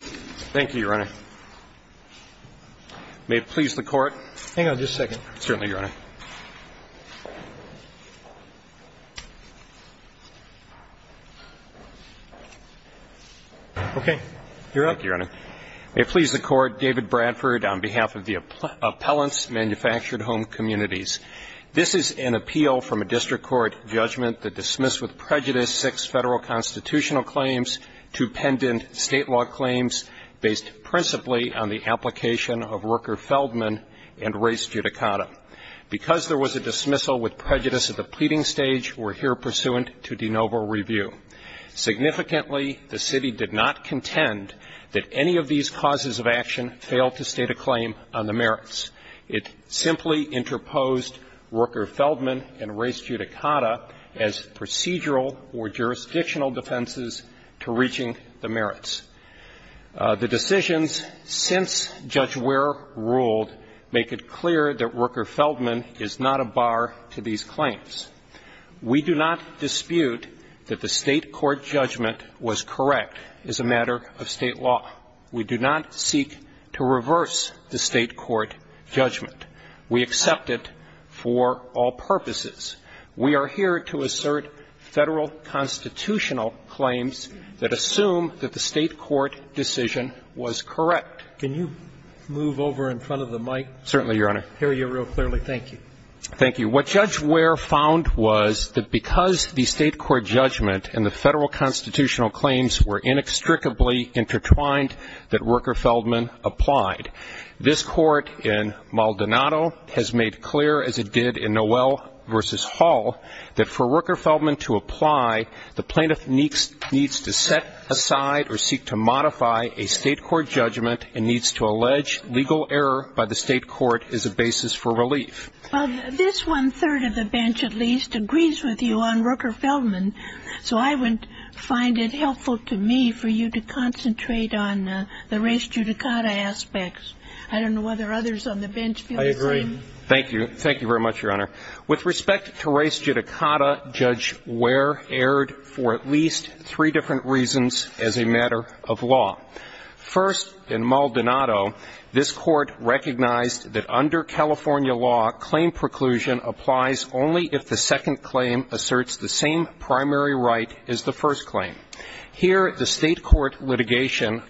Thank you, Your Honor. May it please the Court? Hang on just a second. Certainly, Your Honor. Okay, you're up. Thank you, Your Honor. May it please the Court, David Bradford on behalf of the Appellants, Manufactured Home Communities. This is an appeal from a district court judgment that dismissed with prejudice six federal constitutional claims to pendant state law claims based principally on the application of Rooker-Feldman and race judicata. Because there was a dismissal with prejudice at the pleading stage, we're here pursuant to de novo review. Significantly, the city did not contend that any of these causes of action failed to state a claim on the merits. It simply interposed Rooker-Feldman and race judicata as procedural or jurisdictional defenses to reaching the merits. The decisions since Judge Ware ruled make it clear that Rooker-Feldman is not a bar to these claims. We do not dispute that the state court judgment was correct as a matter of state law. We do not seek to reverse the state court judgment. We accept it for all purposes. We are here to assert federal constitutional claims that assume that the state court decision was correct. Can you move over in front of the mic? Certainly, Your Honor. Hear you real clearly. Thank you. Thank you. What Judge Ware found was that because the state court judgment and the federal constitutional claims were inextricably intertwined that Rooker-Feldman applied. This court in Maldonado has made clear, as it did in Noel v. Hall, that for Rooker-Feldman to apply, the plaintiff needs to set aside or seek to modify a state court judgment and needs to allege legal error by the state court as a basis for relief. Well, this one-third of the bench at least agrees with you on Rooker-Feldman, so I would find it helpful to me for you to concentrate on the res judicata aspects. I don't know whether others on the bench feel the same. I agree. Thank you. Thank you very much, Your Honor. With respect to res judicata, Judge Ware erred for at least three different reasons as a matter of law. First, in Maldonado, this court recognized that under California law, claim preclusion applies only if the second claim asserts the same primary right as the first claim. Here the state court litigation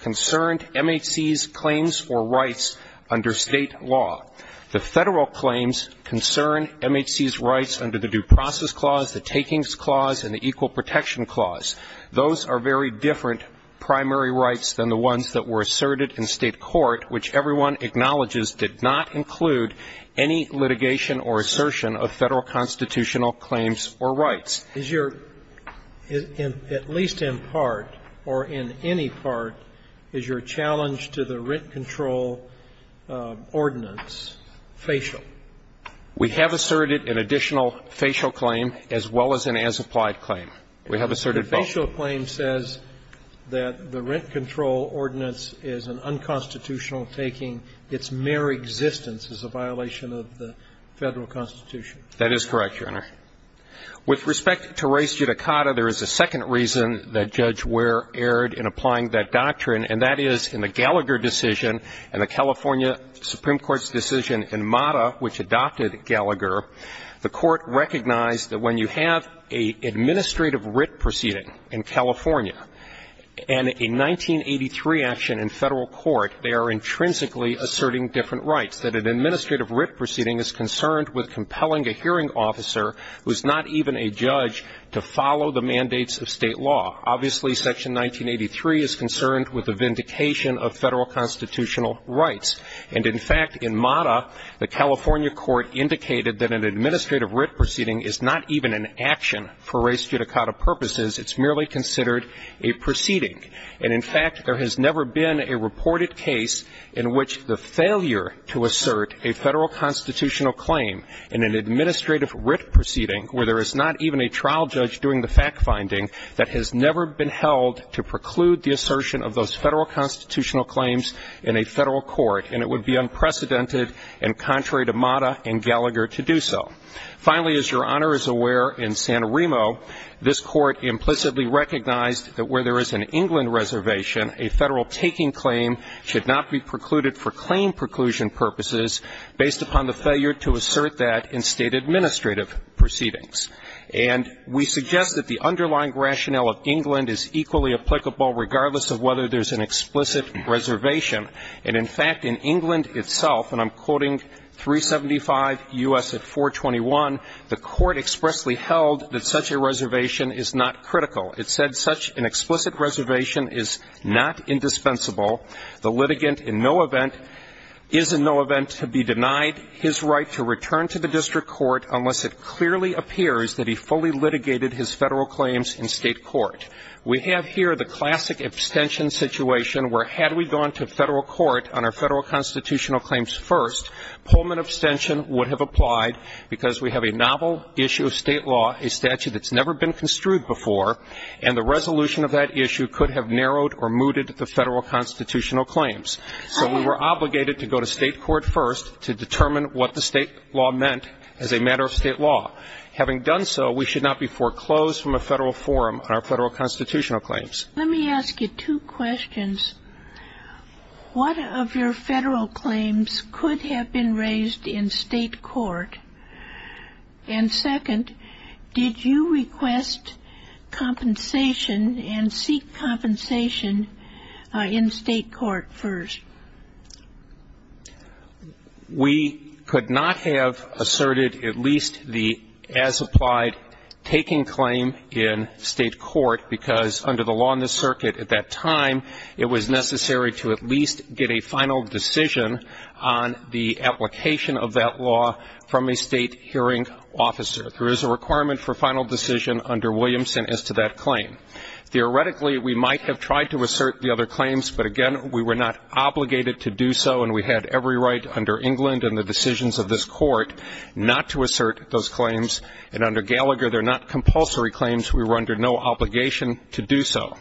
concerned MHC's claims for rights under state law. The federal claims concern MHC's rights under the Due Process Clause, the Takings Clause, and the Equal Protection Clause. Those are very different primary rights than the ones that were asserted in state court, which everyone acknowledges did not include any litigation or assertion of Federal constitutional claims or rights. Is your at least in part or in any part, is your challenge to the rent control ordinance facial? We have asserted an additional facial claim as well as an as-applied claim. We have asserted both. The facial claim says that the rent control ordinance is an unconstitutional taking. Its mere existence is a violation of the Federal Constitution. That is correct, Your Honor. With respect to res judicata, there is a second reason that Judge Ware erred in applying that doctrine, and that is in the Gallagher decision and the California Supreme Court's decision in MATA, which adopted Gallagher. The Court recognized that when you have an administrative writ proceeding in California and a 1983 action in Federal court, they are intrinsically asserting different rights, that an administrative writ proceeding is concerned with compelling a hearing officer who is not even a judge to follow the mandates of State law. Obviously, Section 1983 is concerned with the vindication of Federal constitutional rights. And, in fact, in MATA, the California court indicated that an administrative writ proceeding is not even an action for res judicata purposes. It's merely considered a proceeding. And, in fact, there has never been a reported case in which the failure to assert a Federal constitutional claim in an administrative writ proceeding where there is not even a trial judge doing the fact-finding, that has never been held to preclude the and it would be unprecedented and contrary to MATA and Gallagher to do so. Finally, as Your Honor is aware, in Santorino, this Court implicitly recognized that where there is an England reservation, a Federal taking claim should not be precluded for claim preclusion purposes based upon the failure to assert that in State administrative proceedings. And we suggest that the underlying rationale of England is equally applicable regardless of whether there's an explicit reservation. And, in fact, in England itself, and I'm quoting 375 U.S. at 421, the Court expressly held that such a reservation is not critical. It said such an explicit reservation is not indispensable. The litigant in no event is in no event to be denied his right to return to the district court unless it clearly appears that he fully litigated his Federal claims in State court. We have here the classic abstention situation where had we gone to Federal court on our Federal constitutional claims first, Pullman abstention would have applied because we have a novel issue of State law, a statute that's never been construed before, and the resolution of that issue could have narrowed or mooted the Federal constitutional claims. So we were obligated to go to State court first to determine what the State law meant as a matter of State law. Having done so, we should not be foreclosed from a Federal forum on our Federal constitutional claims. Let me ask you two questions. What of your Federal claims could have been raised in State court? And, second, did you request compensation and seek compensation in State court first? We could not have asserted at least the as-applied taking claim in State court because under the law in the circuit at that time, it was necessary to at least get a final decision on the application of that law from a State hearing officer. There is a requirement for final decision under Williamson as to that claim. Theoretically, we might have tried to assert the other claims, but, again, we were not obligated to do so, and we had every right under England and the decisions of this Court not to assert those claims. And under Gallagher, they're not compulsory claims. We were under no obligation to do so.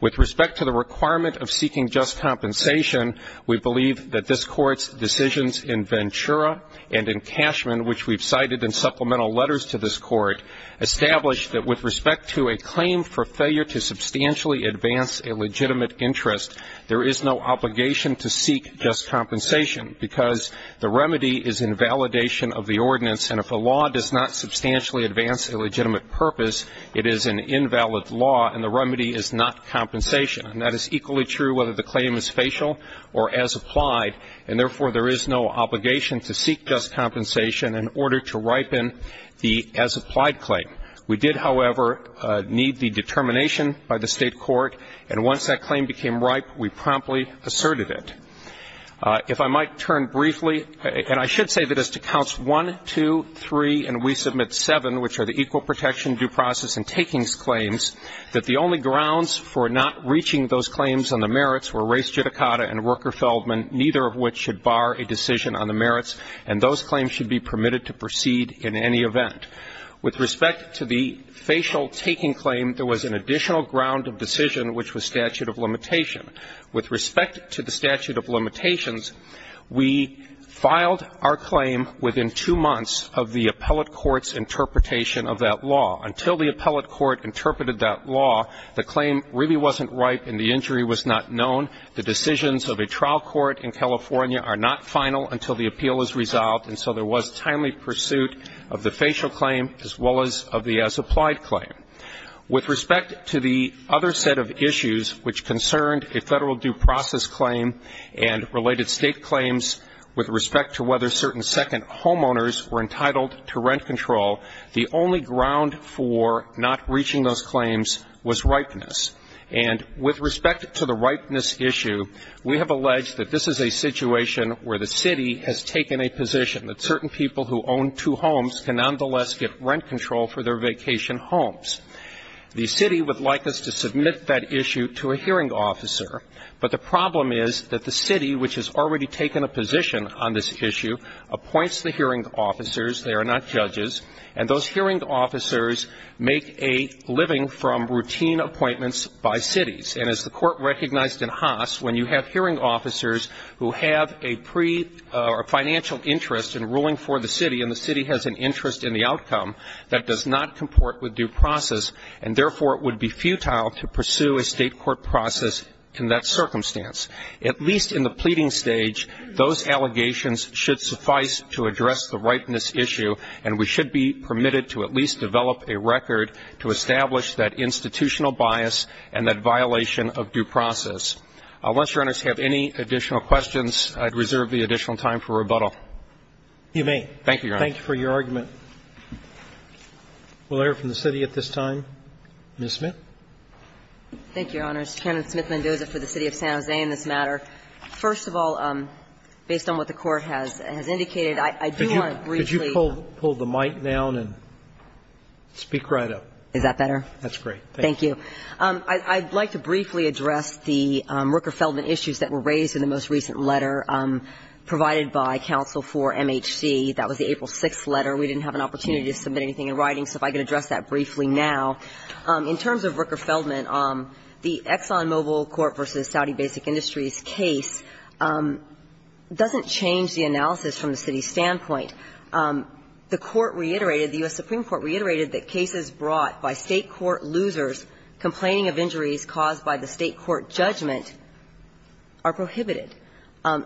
With respect to the requirement of seeking just compensation, we believe that this Court's decisions in Ventura and in Cashman, which we've cited in supplemental letters to this Court, established that with respect to a claim for failure to substantially advance a legitimate interest, there is no obligation to seek just compensation because the remedy is invalidation of the ordinance, and if a law does not substantially advance a legitimate purpose, it is an invalid law, and the remedy is not compensation. And that is equally true whether the claim is facial or as-applied, and, therefore, there is no obligation to seek just compensation in order to ripen the as-applied claim. We did, however, need the determination by the State Court, and once that claim became ripe, we promptly asserted it. If I might turn briefly, and I should say that as to Counts 1, 2, 3, and we submit 7, which are the equal protection, due process, and takings claims, that the only grounds for not reaching those claims on the merits were Race Judicata and Worker Feldman, neither of which should bar a decision on the merits, and those claims should be permitted to proceed in any event. With respect to the facial taking claim, there was an additional ground of decision, which was statute of limitation. With respect to the statute of limitations, we filed our claim within two months of the appellate court's interpretation of that law. Until the appellate court interpreted that law, the claim really wasn't ripe and the injury was not known. The decisions of a trial court in California are not final until the appeal is resolved, and so there was timely pursuit of the facial claim as well as of the as-applied claim. With respect to the other set of issues which concerned a Federal due process claim and related State claims with respect to whether certain second homeowners were entitled to rent control, the only ground for not reaching those claims was ripeness. And with respect to the ripeness issue, we have alleged that this is a situation where the city has taken a position that certain people who own two homes can nonetheless get rent control for their vacation homes. The city would like us to submit that issue to a hearing officer, but the problem is that the city, which has already taken a position on this issue, appoints the hearing officers. They are not judges. And those hearing officers make a living from routine appointments by cities. And as the Court recognized in Haas, when you have hearing officers who have a pre or financial interest in ruling for the city and the city has an interest in the outcome that does not comport with due process, and therefore it would be futile to pursue a State court process in that circumstance. At least in the pleading stage, those allegations should suffice to address the ripeness issue, and we should be permitted to at least develop a record to establish that Once Your Honors have any additional questions, I'd reserve the additional time for rebuttal. You may. Thank you, Your Honor. Thank you for your argument. We'll hear from the city at this time. Ms. Smith. Thank you, Your Honors. Candidate Smith-Mendoza for the City of San Jose in this matter. First of all, based on what the Court has indicated, I do want to briefly ---- Could you pull the mic down and speak right up? Is that better? That's great. Thank you. I'd like to briefly address the Rooker-Feldman issues that were raised in the most recent letter provided by counsel for MHC. That was the April 6th letter. We didn't have an opportunity to submit anything in writing, so if I could address that briefly now. In terms of Rooker-Feldman, the ExxonMobil court versus Saudi Basic Industries case doesn't change the analysis from the city's standpoint. The court reiterated, the U.S. Supreme Court reiterated that cases brought by State court losers complaining of injuries caused by the State court judgment are prohibited.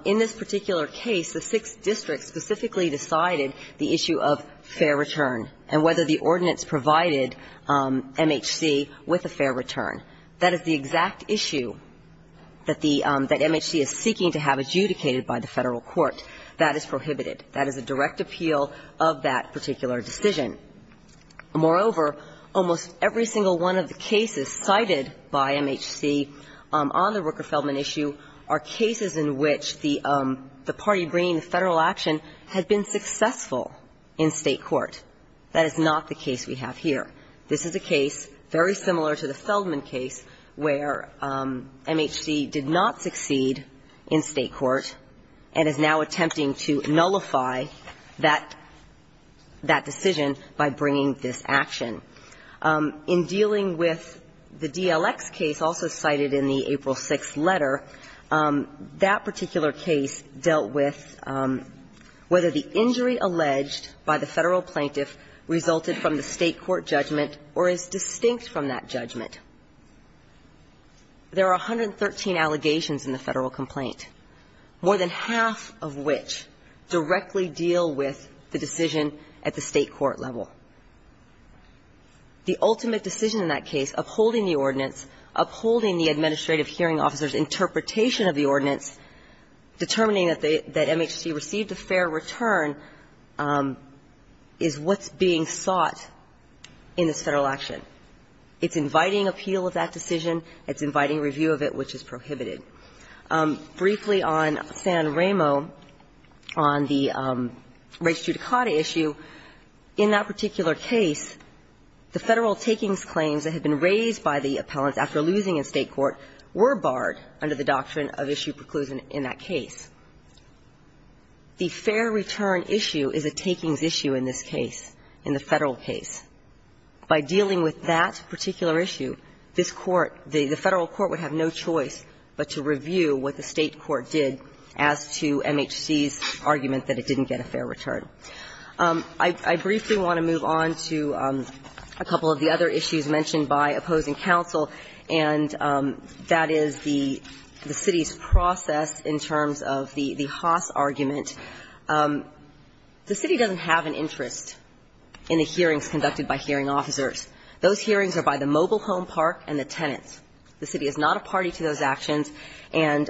In this particular case, the six districts specifically decided the issue of fair return and whether the ordinance provided MHC with a fair return. That is the exact issue that the MHC is seeking to have adjudicated by the Federal Court. That is prohibited. That is a direct appeal of that particular decision. Moreover, almost every single one of the cases cited by MHC on the Rooker-Feldman issue are cases in which the party bringing the Federal action had been successful in State court. That is not the case we have here. This is a case very similar to the Feldman case where MHC did not succeed in State court and is now attempting to nullify that decision by bringing this action. In dealing with the DLX case, also cited in the April 6th letter, that particular case dealt with whether the injury alleged by the Federal plaintiff resulted from the State court judgment or is distinct from that judgment. There are 113 allegations in the Federal complaint. More than half of which directly deal with the decision at the State court level. The ultimate decision in that case, upholding the ordinance, upholding the administrative hearing officer's interpretation of the ordinance, determining that the MHC received a fair return, is what's being sought in this Federal action. It's inviting appeal of that decision. It's inviting review of it, which is prohibited. Briefly on San Ramo, on the race judicata issue, in that particular case, the Federal takings claims that had been raised by the appellants after losing in State court were barred under the doctrine of issue preclusion in that case. The fair return issue is a takings issue in this case, in the Federal case. By dealing with that particular issue, this Court, the Federal court would have no choice but to review what the State court did as to MHC's argument that it didn't get a fair return. I briefly want to move on to a couple of the other issues mentioned by opposing counsel, and that is the City's process in terms of the Haas argument. The City doesn't have an interest in the hearings conducted by hearing officers. Those hearings are by the mobile home park and the tenants. The City is not a party to those actions, and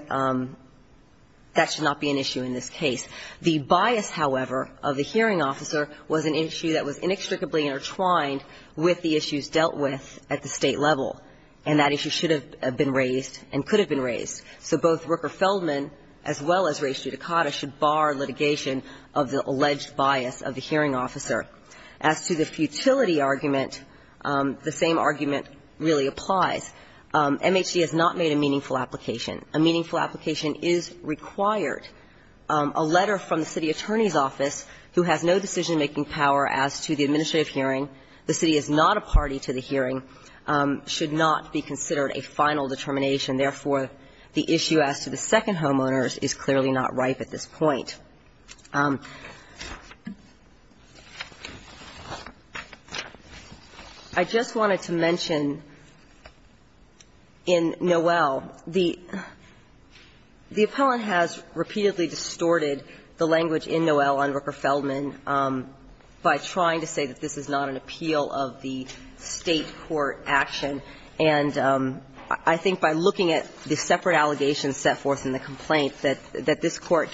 that should not be an issue in this case. The bias, however, of the hearing officer was an issue that was inextricably intertwined with the issues dealt with at the State level, and that issue should have been raised and could have been raised. So both Rooker-Feldman as well as race judicata should bar litigation of the alleged bias of the hearing officer. As to the futility argument, the same argument really applies. MHC has not made a meaningful application. A meaningful application is required. A letter from the City attorney's office, who has no decision-making power as to the administrative hearing, the City is not a party to the hearing, should not be considered a final determination. Therefore, the issue as to the second homeowners is clearly not ripe at this point. I just wanted to mention, in Noel, the appellant has repeatedly distorted the language in Noel on Rooker-Feldman by trying to say that this is not an appeal of the State court action, and I think by looking at the separate allegations set forth in the case,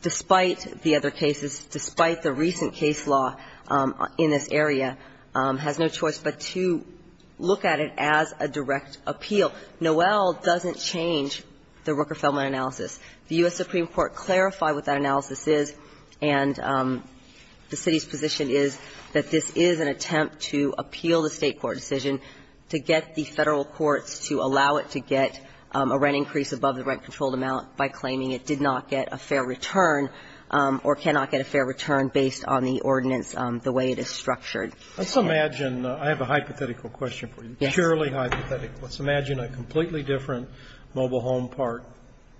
despite the other cases, despite the recent case law in this area, has no choice but to look at it as a direct appeal. Noel doesn't change the Rooker-Feldman analysis. The U.S. Supreme Court clarified what that analysis is, and the City's position is that this is an attempt to appeal the State court decision to get the Federal fair return or cannot get a fair return based on the ordinance, the way it is structured. Let's imagine, I have a hypothetical question for you, purely hypothetical. Let's imagine a completely different mobile home park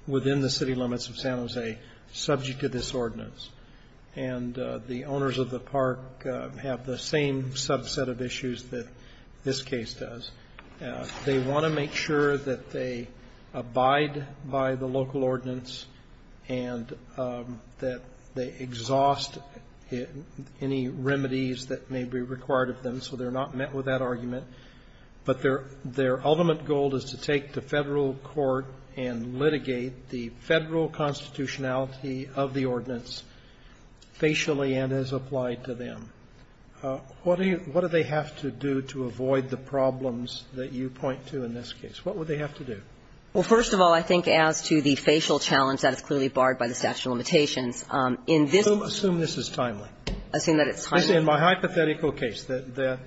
within the City limits of San Jose, subject to this ordinance, and the owners of the park have the same subset of issues that this case does. They want to make sure that they abide by the local ordinance and that they exhaust any remedies that may be required of them, so they're not met with that argument. But their ultimate goal is to take the Federal court and litigate the Federal constitutionality of the ordinance facially and as applied to them. What do they have to do to avoid the problems that you point to in this case? What would they have to do? Well, first of all, I think as to the facial challenge, that is clearly barred by the statute of limitations. Assume this is timely. Assume that it's timely. In my hypothetical case, the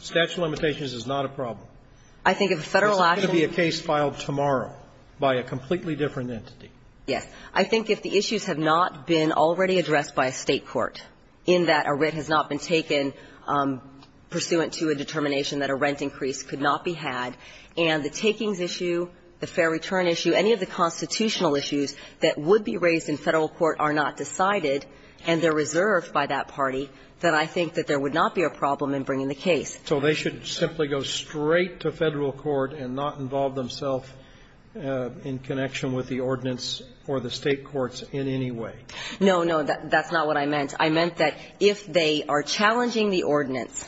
statute of limitations is not a problem. I think if a Federal action It's not going to be a case filed tomorrow by a completely different entity. Yes. I think if the issues have not been already addressed by a State court in that a writ has not been taken pursuant to a determination that a rent increase could not be had and the takings issue, the fair return issue, any of the constitutional issues that would be raised in Federal court are not decided and they're reserved by that party, then I think that there would not be a problem in bringing the case. So they should simply go straight to Federal court and not involve themselves in connection with the ordinance or the State courts in any way? No, no. That's not what I meant. I meant that if they are challenging the ordinance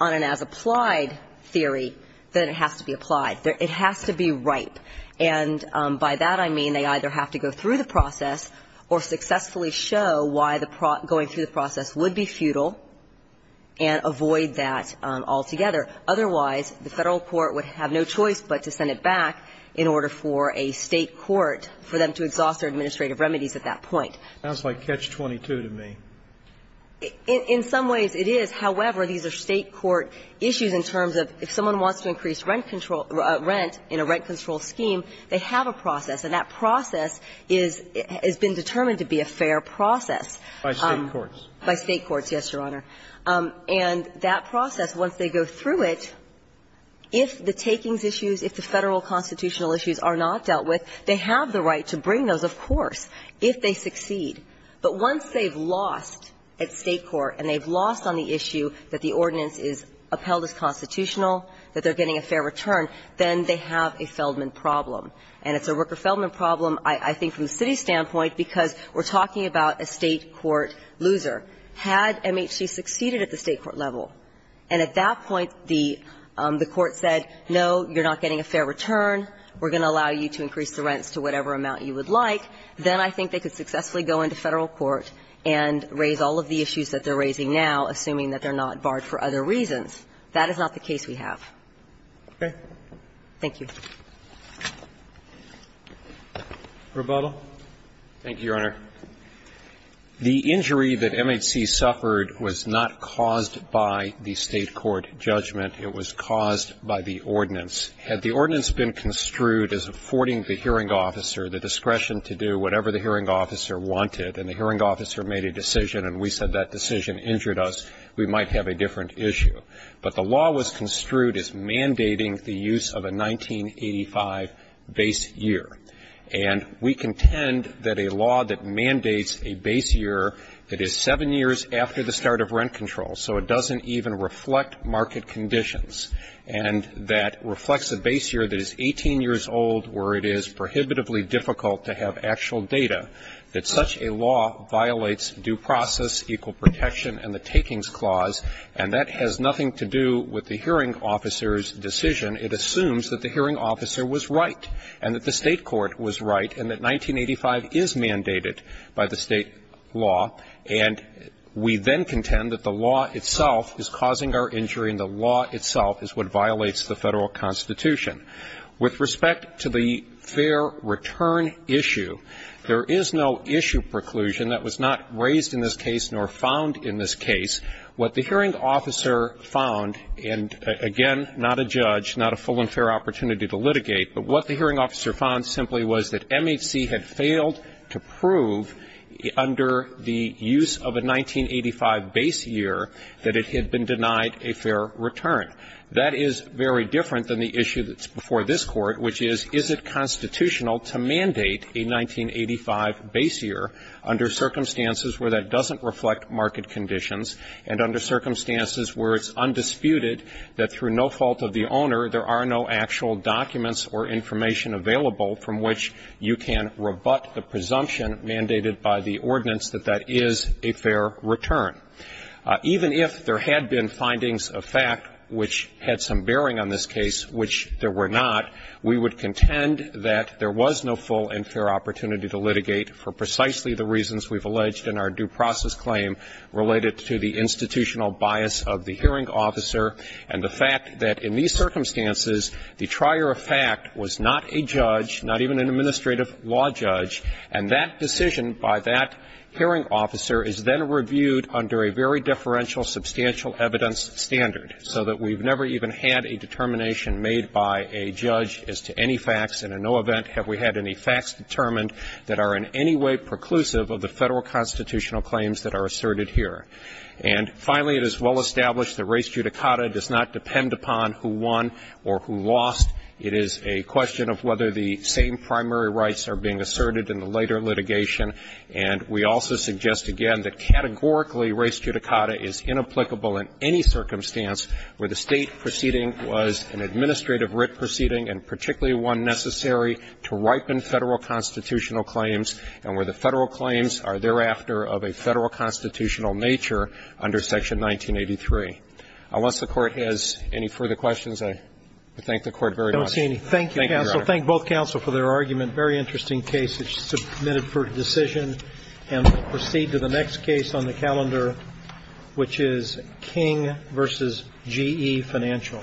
on an as-applied theory, then it has to be applied. It has to be ripe. And by that I mean they either have to go through the process or successfully show why going through the process would be futile and avoid that altogether. Otherwise, the Federal court would have no choice but to send it back in order for a State court for them to exhaust their administrative remedies at that point. That's like catch-22 to me. In some ways it is. However, these are State court issues in terms of if someone wants to increase rent control, rent in a rent control scheme, they have a process. And that process is, has been determined to be a fair process. By State courts. By State courts, yes, Your Honor. And that process, once they go through it, if the takings issues, if the Federal process, if they succeed, but once they've lost at State court and they've lost on the issue that the ordinance is upheld as constitutional, that they're getting a fair return, then they have a Feldman problem. And it's a Rooker-Feldman problem, I think, from the city's standpoint, because we're talking about a State court loser. Had MHC succeeded at the State court level and at that point the court said, no, you're not getting a fair return, we're going to allow you to increase the rents to whatever amount you would like, then I think they could successfully go into Federal court and raise all of the issues that they're raising now, assuming that they're not barred for other reasons. That is not the case we have. Roberts. Thank you. Roberts. Thank you, Your Honor. The injury that MHC suffered was not caused by the State court judgment. It was caused by the ordinance. Had the ordinance been construed as affording the hearing officer the discretion to do whatever the hearing officer wanted and the hearing officer made a decision and we said that decision injured us, we might have a different issue. But the law was construed as mandating the use of a 1985 base year. And we contend that a law that mandates a base year that is seven years after the start of rent control, so it doesn't even reflect market conditions, and that reflects a base year that is 18 years old where it is prohibitively difficult to have actual data, that such a law violates due process, equal protection and the takings clause. And that has nothing to do with the hearing officer's decision. It assumes that the hearing officer was right and that the State court was right and that 1985 is mandated by the State law. And we then contend that the law itself is causing our injury and the law itself is what violates the Federal Constitution. With respect to the fair return issue, there is no issue preclusion that was not raised in this case nor found in this case. What the hearing officer found, and again, not a judge, not a full and fair opportunity to litigate, but what the hearing officer found simply was that MHC had failed to prove under the use of a 1985 base year that it had been denied a fair return. That is very different than the issue that's before this Court, which is, is it constitutional to mandate a 1985 base year under circumstances where that doesn't reflect market conditions and under circumstances where it's undisputed that through no fault of the owner there are no actual documents or information available from which you can rebut the presumption mandated by the ordinance that that is a fair return. Even if there had been findings of fact which had some bearing on this case which there were not, we would contend that there was no full and fair opportunity to litigate for precisely the reasons we've alleged in our due process claim related to the institutional bias of the hearing officer and the fact that in these circumstances the trier of fact was not a judge, not even an administrative law judge, and that this decision by that hearing officer is then reviewed under a very differential substantial evidence standard so that we've never even had a determination made by a judge as to any facts, and in no event have we had any facts determined that are in any way preclusive of the Federal constitutional claims that are asserted here. And finally, it is well established that race judicata does not depend upon who won or who lost. It is a question of whether the same primary rights are being asserted in the later litigation, and we also suggest again that categorically race judicata is inapplicable in any circumstance where the State proceeding was an administrative writ proceeding and particularly one necessary to ripen Federal constitutional claims and where the Federal claims are thereafter of a Federal constitutional nature under Section 1983. Unless the Court has any further questions, I thank the Court very much. Thank you, Your Honor. Thank you, counsel. Thank both counsel for their argument. Very interesting case. It's submitted for decision. And we'll proceed to the next case on the calendar, which is King v. G.E. Financial. Thank you.